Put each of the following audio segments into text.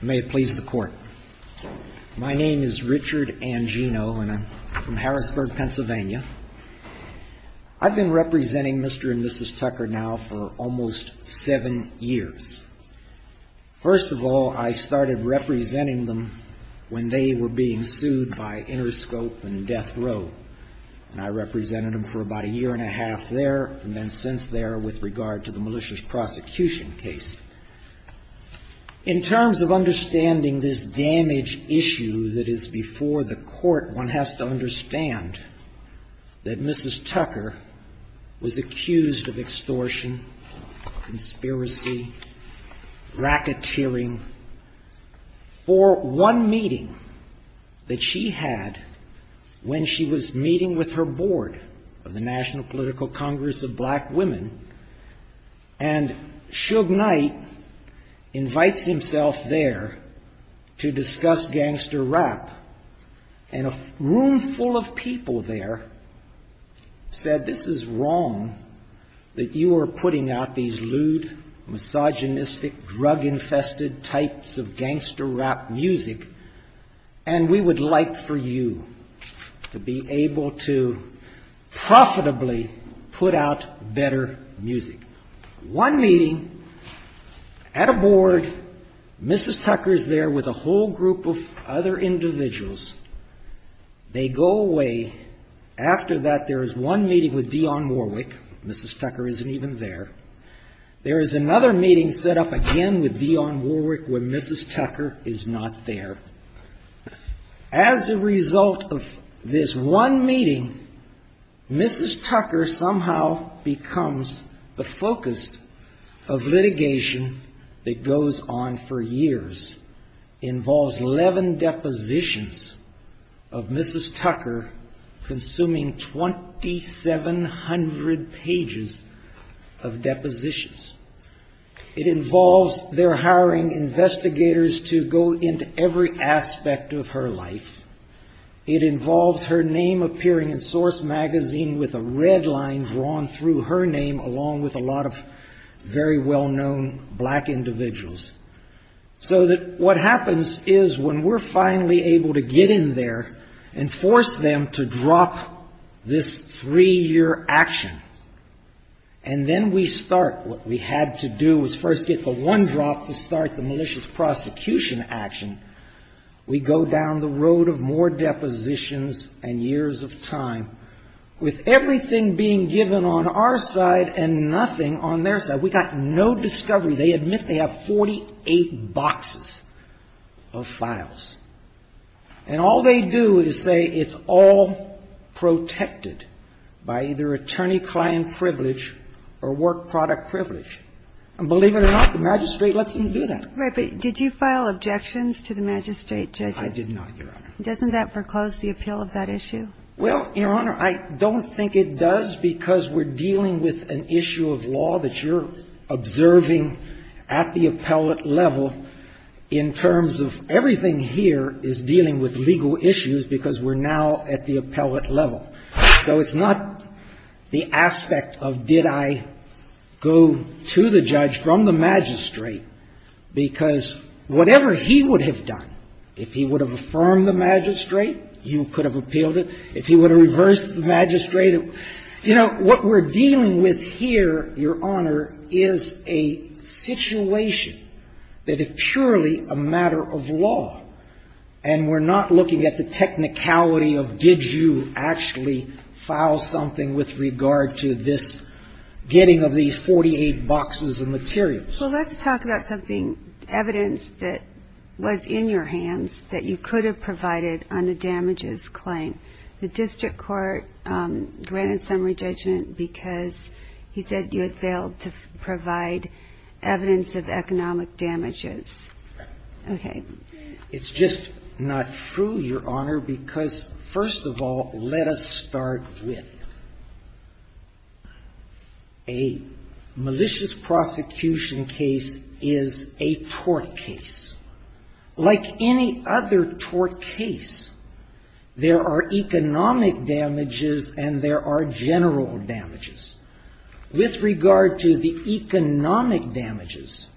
May it please the Court. My name is Richard Angino, and I'm from Harrisburg, Pennsylvania. I've been representing Mr. and Mrs. Tucker now for almost seven years. First of all, I started representing them when they were being sued by Interscope and Death Row, and I represented them for about a year and a half there, and then since there with regard to the malicious prosecution case. In terms of understanding this damage issue that is before the Court, one has to understand that Mrs. Tucker was accused of extortion, conspiracy, racketeering, for one meeting that she had when she was meeting with her board of the National Political Congress of Black Women, and Suge Knight invites himself there to discuss gangster rap, and a room full of people there said, this is wrong that you are putting out these lewd, misogynistic, drug-infested types of gangster rap music, and we would like for you to be able to profitably put out better music. One meeting at a board, Mrs. Tucker is there with a whole group of other individuals. They go away. After that, there is one meeting with Dionne Warwick. Mrs. Tucker isn't even there. There is another meeting set up again with Dionne Warwick when Mrs. Tucker is not there. As a result of this one meeting, Mrs. Tucker somehow becomes the focus of litigation that goes on for years, involves 11 depositions of Mrs. Tucker, consuming 2,700 pages of depositions. It involves their hiring investigators to go into every aspect of her life. It involves her name appearing in Source magazine with a red line drawn through her name along with a lot of very well-known black individuals. So that what happens is when we are finally able to get in there and force them to drop this three-year action, and then we start what we had to do was first get the one drop to start the malicious prosecution action, we go down the road of more depositions and years of time with everything being given on our side and nothing on their side. We got no discovery. They admit they have 48 boxes of files. And all they do is say it's all protected by either attorney-client privilege or work-product privilege. And believe it or not, the magistrate lets them do that. Right. But did you file objections to the magistrate, Judge? I did not, Your Honor. Doesn't that foreclose the appeal of that issue? Well, Your Honor, I don't think it does because we're dealing with an issue of law that you're observing at the appellate level in terms of everything here is dealing with legal issues because we're now at the appellate level. So it's not the aspect of did I go to the judge from the magistrate, because whatever he would have done, if he would have affirmed the magistrate, you could have appealed it. If he would have reversed the magistrate, you know, what we're dealing with here, Your Honor, is a situation that is purely a matter of law. And we're not looking at the technicality of did you actually file something with regard to this getting of these 48 boxes of materials. Well, let's talk about something, evidence that was in your hands that you could have provided on the damages claim. The district court granted summary judgment because he said you had failed to provide evidence of economic damages. It's just not true, Your Honor, because first of all, let us start with a malicious prosecution case is a tort case. Like any other tort case, there are economic damages and there are general damages. With regard to the economic damages,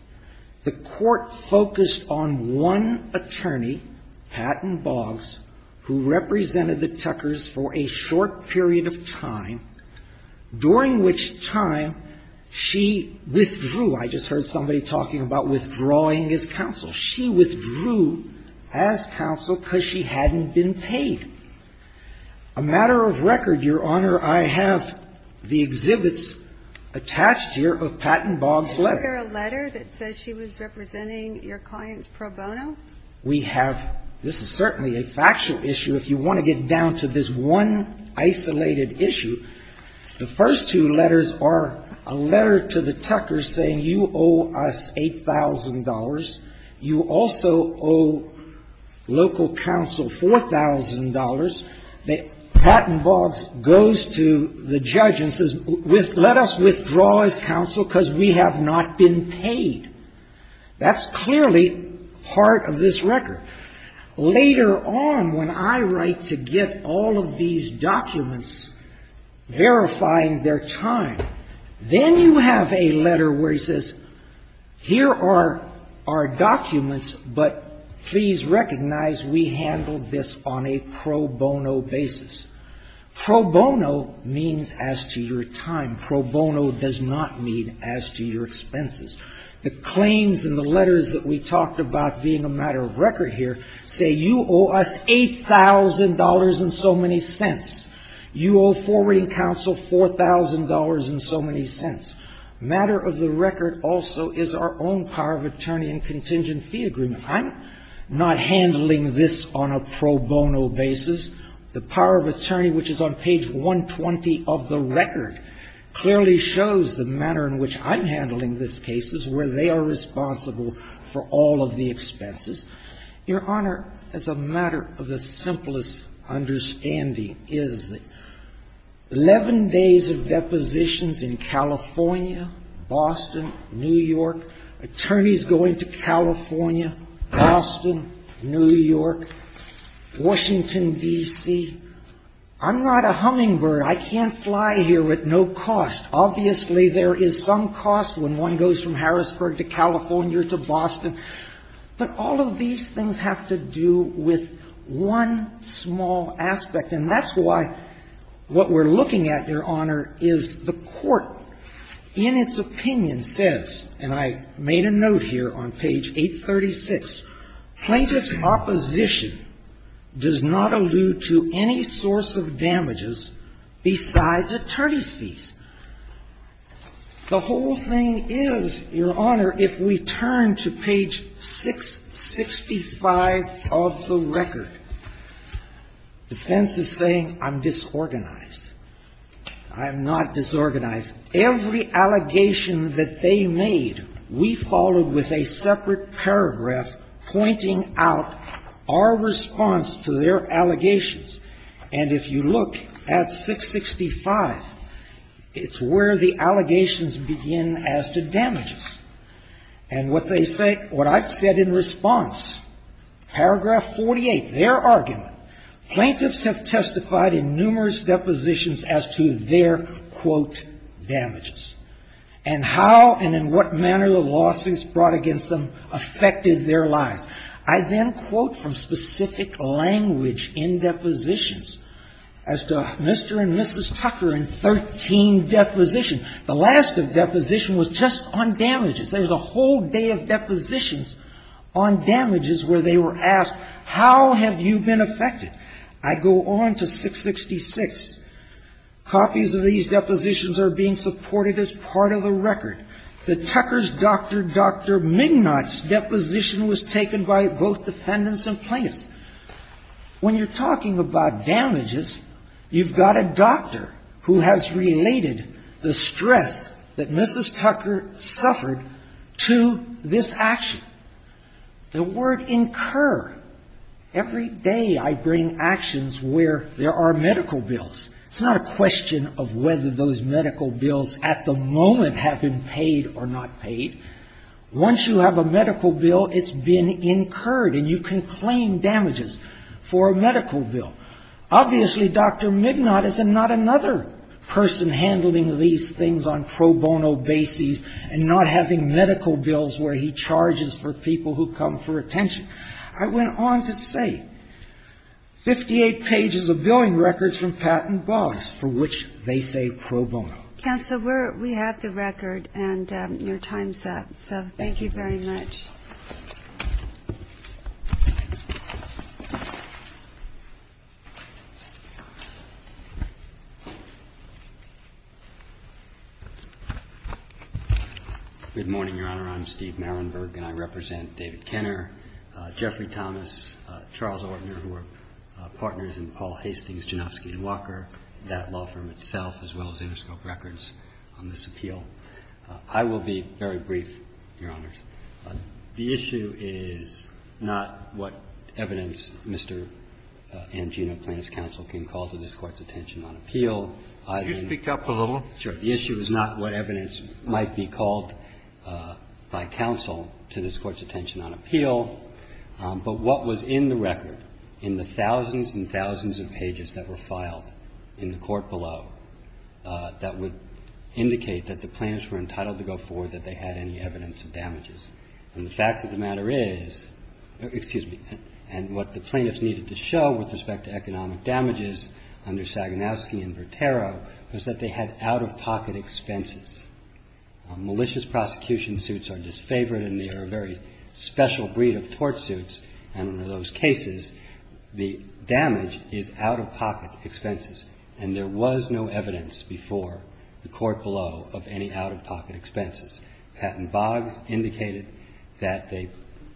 the court focused on one attorney, Patton Boggs, who represented the Tuckers for a short period of time, during which time she withdrew. I just heard somebody talking about withdrawing as counsel. She withdrew as counsel because she hadn't been paid. A matter of record, Your Honor, I have the exhibits attached here of Patton Boggs' letter. Is there a letter that says she was representing your client's pro bono? We have — this is certainly a factual issue. If you want to get down to this one isolated issue, the first two letters are a letter to the Tuckers saying you owe us $8,000. You also owe local counsel $4,000. Patton Boggs goes to the judge and says, let us withdraw as counsel because we have not been paid. That's clearly part of this record. Later on, when I write to get all of these documents verifying their time, then you have a letter where it says, here are our documents, but please recognize we handled this on a pro bono basis. Pro bono means as to your time. Pro bono does not mean as to your expenses. The claims in the letters that we talked about being a matter of record here say you owe us $8,000 and so many cents. You owe forwarding counsel $4,000 and so many cents. Matter of the record also is our own power of attorney and contingent fee agreement. I'm not handling this on a pro bono basis. The power of attorney, which is on page 120 of the record, clearly shows the manner in which I'm handling this case is where they are responsible for all of the expenses. Your Honor, as a matter of the simplest understanding, is that 11 days of depositions in California, Boston, New York, attorneys going to California, Boston, New York, Washington, D.C. I'm not a hummingbird. I can't fly here at no cost. Obviously, there is some cost when one goes from Harrisburg to California to Boston. But all of these things have to do with one small aspect, and that's why what we're looking at, Your Honor, is the Court, in its opinion, says, and I made a note here on page 836, plaintiff's opposition does not allude to any source of damages besides attorney's fees. The whole thing is, Your Honor, if we turn to page 665 of the record, defense is responsible for all of the expenses saying I'm disorganized. I'm not disorganized. Every allegation that they made, we followed with a separate paragraph pointing out our response to their allegations. And if you look at 665, it's where the allegations begin as to damages. And what they say, what I've said in response, paragraph 48, their argument, plaintiffs have testified in numerous depositions as to their, quote, damages, and how and in what manner the lawsuits brought against them affected their lives. I then quote from specific language in depositions as to Mr. and Mrs. Tucker in 13 depositions. The last deposition was just on damages. There's a whole day of depositions on damages where they were asked, how have you been affected? I go on to 666. Copies of these depositions are being supported as part of the record. The Tucker's doctor, Dr. Mignot's deposition was taken by both defendants and plaintiffs. When you're talking about damages, you've got a doctor who has related the stress that Mrs. Tucker suffered to this action. The word incur. Every day I bring actions where there are medical bills. It's not a question of whether those medical bills at the moment have been paid or not paid. Once you have a medical bill, it's been incurred and you can claim damages for a medical bill. Obviously, Dr. Mignot is not another person handling these things on pro bono basis and not having medical bills where he charges for people who come for attention. I went on to say 58 pages of billing records from patent bonds for which they say pro bono. Counsel, we have the record and your time's up. So thank you very much. Good morning, Your Honor. I'm Steve Marienberg and I represent David Kenner, Jeffrey Thomas, Charles Ortner, who are partners in Paul Hastings, Janowski & Walker, that law firm itself, as well as Interscope Records on this appeal. I will be very brief, Your Honors. The issue is not what evidence Mr. Angino, Plaintiff's counsel, can call to this Court's attention on appeal. Could you speak up a little? Sure. The issue is not what evidence might be called by counsel to this Court's attention on appeal, but what was in the record in the thousands and thousands of pages that were filed in the court below that would indicate that the plaintiffs were entitled to go forward that they had any evidence of damages. And the fact that the matter is – excuse me – and what the plaintiffs needed to show with respect to economic damages under Saganowski and Vertero was that they had out-of-pocket expenses. Malicious prosecution suits are disfavored and they are a very special breed of tort suits, and in those cases, the damage is out-of-pocket expenses. And there was no evidence before the court below of any out-of-pocket expenses. Patton Boggs indicated that they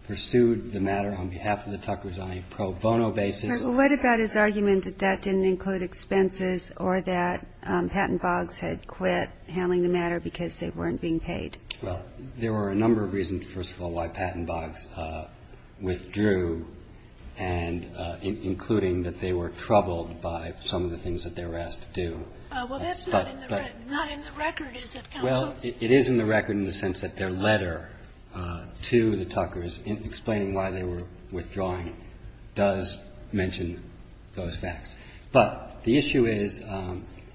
pursued the matter on behalf of the Tuckers on a pro bono basis. But what about his argument that that didn't include expenses or that Patton Boggs had quit handling the matter because they weren't being paid? Well, there were a number of reasons, first of all, why Patton Boggs withdrew, and including that they were troubled by some of the things that they were asked to do. Well, that's not in the record, is it, counsel? Well, it is in the record in the sense that their letter to the Tuckers explaining why they were withdrawing does mention those facts. But the issue is,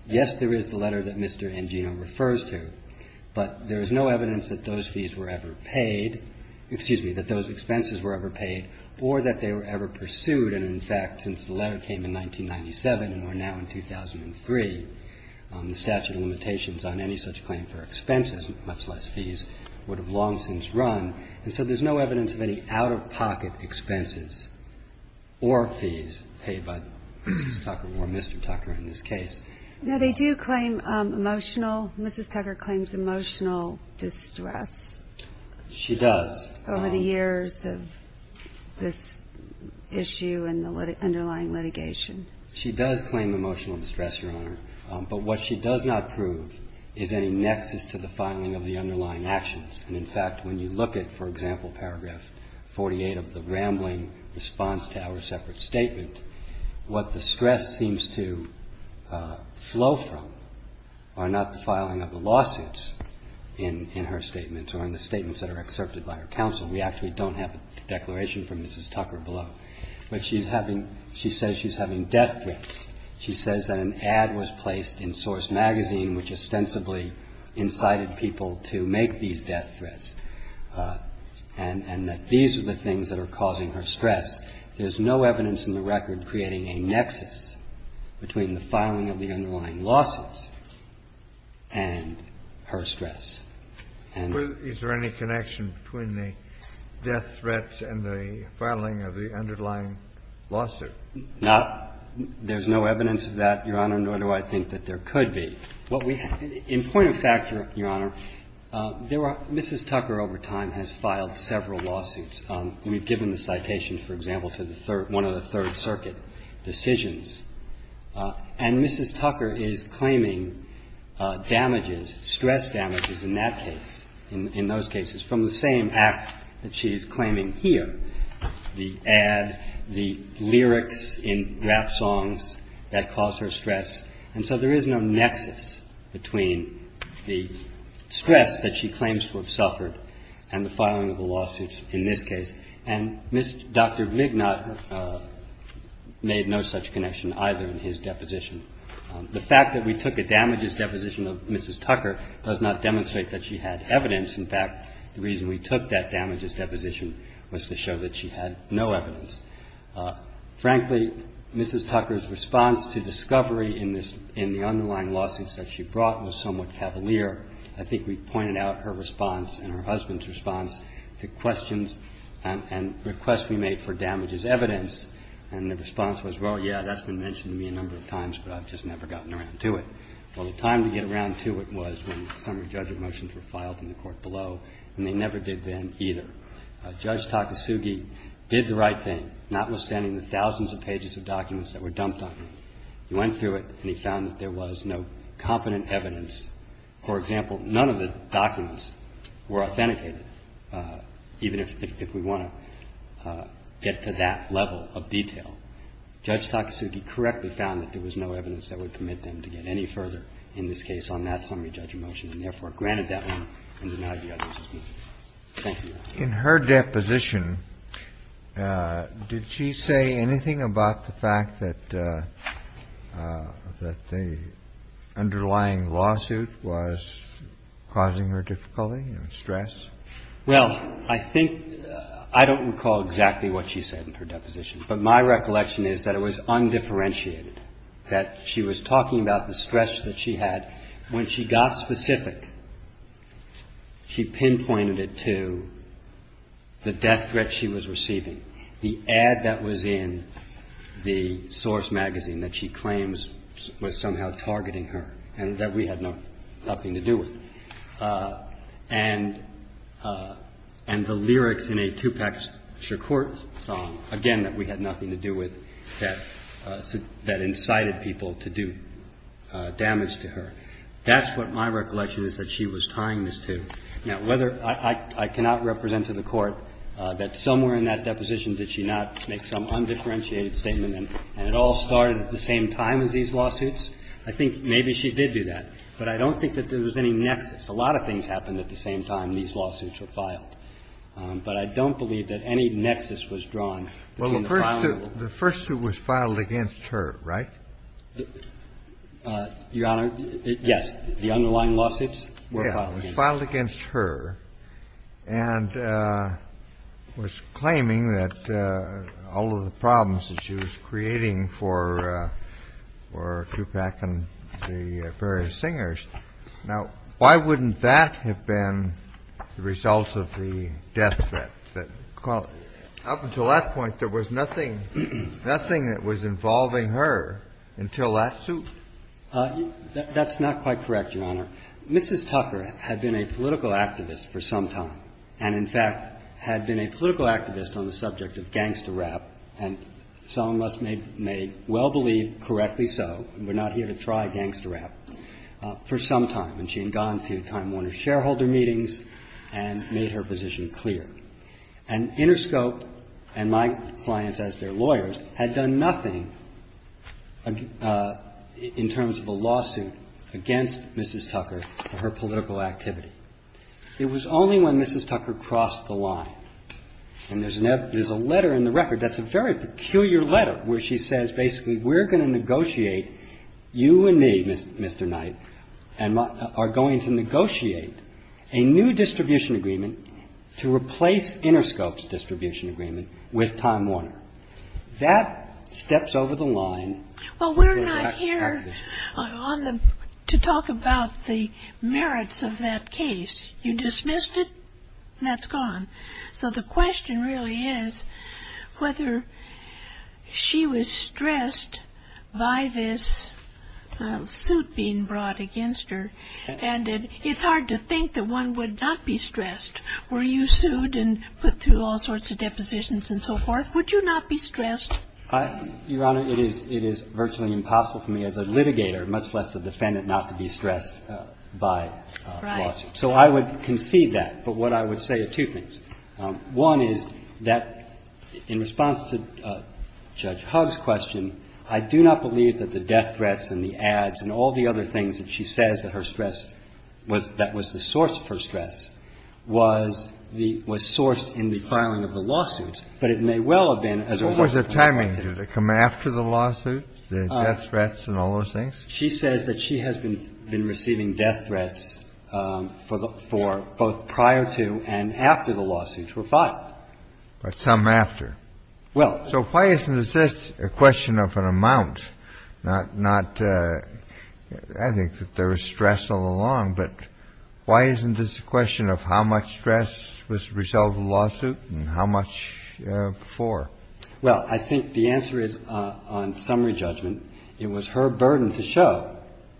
yes, there is the letter that Mr. Angino refers to, but there is no evidence that those fees were ever paid, excuse me, that those expenses were ever paid or that they were ever pursued. And, in fact, since the letter came in 1997 and we're now in 2003, the statute of limitations on any such claim for expenses, much less fees, would have long since run. And so there's no evidence of any out-of-pocket expenses or fees paid by Mrs. Tucker or Mr. Tucker in this case. Now, they do claim emotional. Mrs. Tucker claims emotional distress. She does. Over the years of this issue and the underlying litigation. She does claim emotional distress, Your Honor. But what she does not prove is any look at, for example, paragraph 48 of the rambling response to our separate statement, what the stress seems to flow from are not the filing of the lawsuits in her statement or in the statements that are excerpted by her counsel. We actually don't have a declaration from Mrs. Tucker below. But she's having, she says she's having death threats. She says that an ad was placed in Source magazine which ostensibly incited people to make these death threats, and that these are the things that are causing her stress. There's no evidence in the record creating a nexus between the filing of the underlying lawsuits and her stress. And the ---- Kennedy, is there any connection between the death threats and the filing of the underlying lawsuit? Not. There's no evidence of that, Your Honor, nor do I think that there could be. What we have ---- In point of fact, Your Honor, there are ---- Mrs. Tucker over time has filed several lawsuits. We've given the citation, for example, to the third ---- one of the Third Circuit decisions. And Mrs. Tucker is claiming damages, stress damages in that case, in those cases, from the same acts that she is claiming here, the ad, the lyrics in rap songs that cause her stress. And so there is no nexus between the stress that she claims to have suffered and the filing of the lawsuits in this case. And Dr. Vignott made no such connection either in his deposition. The fact that we took a damages deposition of Mrs. Tucker does not demonstrate that she had evidence. In fact, the reason we took that damages deposition was to show that she had no evidence. Frankly, Mrs. Tucker's response to discovery in this ---- in the underlying lawsuits that she brought was somewhat cavalier. I think we pointed out her response and her husband's response to questions and requests we made for damages evidence. And the response was, well, yeah, that's been mentioned to me a number of times, but I've just never gotten around to it. Well, the time to get around to it was when summary judgment motions were filed in the court below, and they never did then either. Judge Takasugi did the right thing, notwithstanding the thousands of pages of documents that were dumped on him. He went through it and he found that there was no competent evidence. For example, none of the documents were authenticated, even if we want to get to that level of detail. Judge Takasugi correctly found that there was no evidence that would permit them to get any further in this case on that summary judgment motion, and therefore granted that one and denied the others. Thank you, Your Honor. In her deposition, did she say anything about the fact that the underlying lawsuit was causing her difficulty and stress? Well, I think – I don't recall exactly what she said in her deposition, but my recollection is that it was undifferentiated, that she was talking about the stress that she had. When she got specific, she pinpointed it to the death threat she was receiving, the ad that was in the source magazine that she claims was somehow targeting her and that we had nothing to do with. And the lyrics in a Tupac Shakur song, again, that we had nothing to do with, that incited people to do damage to her. That's what my recollection is that she was tying this to. Now, whether – I cannot represent to the Court that somewhere in that deposition did she not make some undifferentiated statement and it all started at the same time as these lawsuits. I think maybe she did do that, but I don't think that there was any nexus. A lot of things happened at the same time these lawsuits were filed. But I don't believe that any nexus was drawn between the file and the lawsuit. The first suit was filed against her, right? Your Honor, yes. The underlying lawsuits were filed against her. Yeah, it was filed against her and was claiming that all of the problems that she was creating for Tupac and the various singers. Now, why wouldn't that have been the result of the death threat? Up until that point, there was nothing that was involving her until that suit? That's not quite correct, Your Honor. Mrs. Tucker had been a political activist for some time and, in fact, had been a political activist on the subject of gangster rap, and some of us may well believe correctly so, and we're not here to try gangster rap, for some time. And she had gone to time-warner shareholder meetings and made her position clear. And Interscope and my clients, as their lawyers, had done nothing in terms of a lawsuit against Mrs. Tucker for her political activity. It was only when Mrs. Tucker crossed the line, and there's a letter in the record that's a very peculiar letter, where she says basically, we're going to negotiate, you and me, Mr. Knight, and are going to negotiate a new distribution agreement to replace Interscope's distribution agreement with Time Warner. That steps over the line. Well, we're not here to talk about the merits of that case. You dismissed it, and that's gone. So the question really is whether she was stressed by this suit being brought against her. And it's hard to think that one would not be stressed were you sued and put through all sorts of depositions and so forth, would you not be stressed? Your Honor, it is virtually impossible for me as a litigator, much less a defendant, not to be stressed by a lawsuit. Right. So I would concede that. But what I would say are two things. One is that in response to Judge Hugg's question, I do not believe that the death threat that was the source for stress was the ‑‑ was sourced in the filing of the lawsuit. But it may well have been as a result of the lawsuit. What was the timing? Did it come after the lawsuit, the death threats and all those things? She says that she has been receiving death threats for both prior to and after the lawsuits were filed. But some after. Well ‑‑ So why isn't this a question of an amount, not ‑‑ I think that there was stress all along, but why isn't this a question of how much stress was the result of the lawsuit and how much before? Well, I think the answer is, on summary judgment, it was her burden to show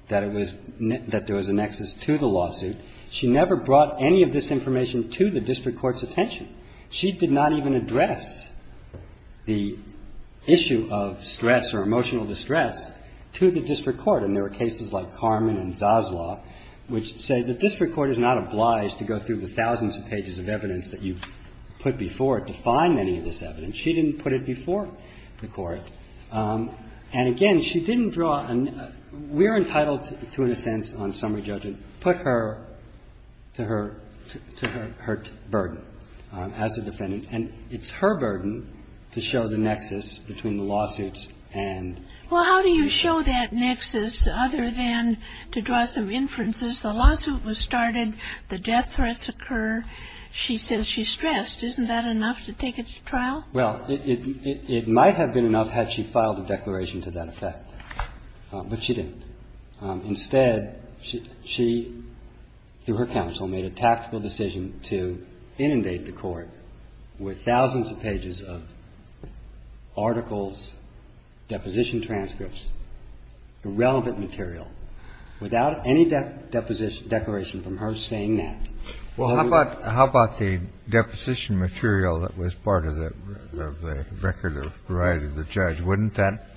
that it was ‑‑ that there was a nexus to the lawsuit. She never brought any of this information to the district court's attention. She did not even address the issue of stress or emotional distress to the district court. And there were cases like Carmen and Zaslaw, which say that district court is not obliged to go through the thousands of pages of evidence that you put before it to find any of this evidence. She didn't put it before the court. And again, she didn't draw a ‑‑ we're entitled to, in a sense, on summary judgment, put her to her ‑‑ to her ‑‑ her burden as a defendant. And it's her burden to show the nexus between the lawsuits and ‑‑ Well, how do you show that nexus other than to draw some inferences? The lawsuit was started. The death threats occur. She says she's stressed. Isn't that enough to take it to trial? Well, it might have been enough had she filed a declaration to that effect. But she didn't. Instead, she, through her counsel, made a tactical decision to inundate the court with thousands of pages of articles, deposition transcripts, irrelevant material, without any declaration from her saying that. Well, how about the deposition material that was part of the record of the judge? Wouldn't that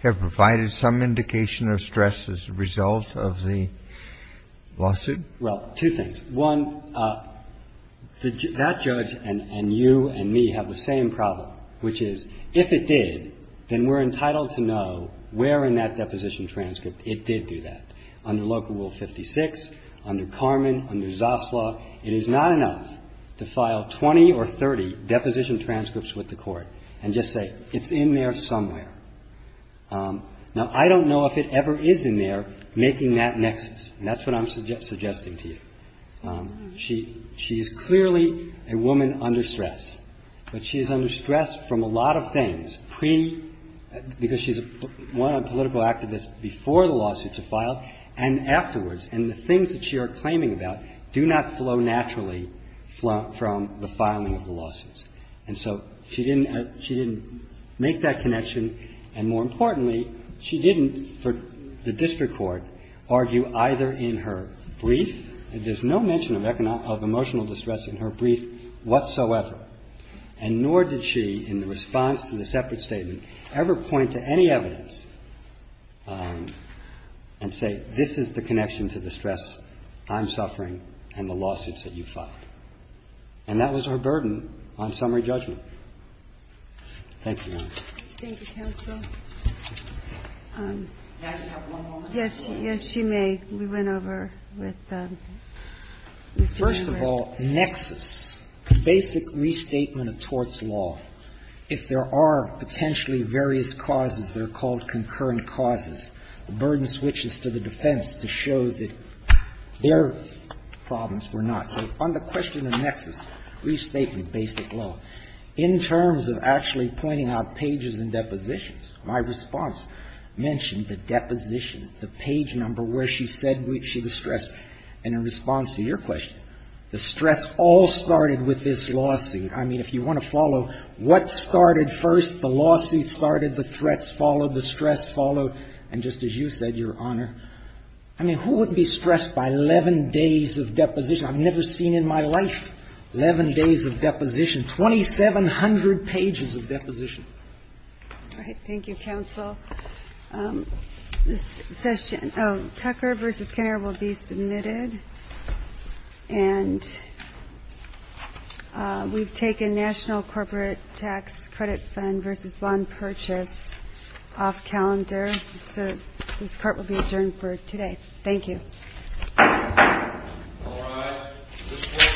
have provided some indication of stress as a result of the lawsuit? Well, two things. One, that judge and you and me have the same problem, which is if it did, then we're entitled to know where in that deposition transcript it did do that, under Local Rule 56, under Carman, under Zasla. It is not enough to file 20 or 30 deposition transcripts with the court and just say, it's in there somewhere. Now, I don't know if it ever is in there, making that nexus. And that's what I'm suggesting to you. She is clearly a woman under stress, but she is under stress from a lot of things pre – because she's a political activist before the lawsuit is filed and afterwards. And the things that she is claiming about do not flow naturally from the filing of the lawsuits. And so she didn't make that connection. And more importantly, she didn't, for the district court, argue either in her brief that there's no mention of emotional distress in her brief whatsoever, and nor did she, in the response to the separate statement, ever point to any evidence and say, this is the connection to the stress I'm suffering and the lawsuits that you filed. And that was her burden on summary judgment. Thank you, Your Honor. Thank you, counsel. May I just have one moment? Yes. Yes, you may. We went over with Mr. Greenberg. First of all, nexus, basic restatement of torts law, if there are potentially various causes that are called concurrent causes, the burden switches to the defense to show that their problems were not. So on the question of nexus, restatement, basic law, in terms of actually pointing out pages and depositions, my response mentioned the deposition, the page number where she said she was stressed. And in response to your question, the stress all started with this lawsuit. I mean, if you want to follow what started first, the lawsuit started, the threats followed, the stress followed. And just as you said, Your Honor, I mean, who wouldn't be stressed by 11 days of deposition? I've never seen in my life 11 days of deposition, 2,700 pages of deposition. All right. Thank you, counsel. This session of Tucker v. Kenner will be submitted. And we've taken National Corporate Tax Credit Fund v. Bond Purchase off calendar. So this court will be adjourned for today. Thank you.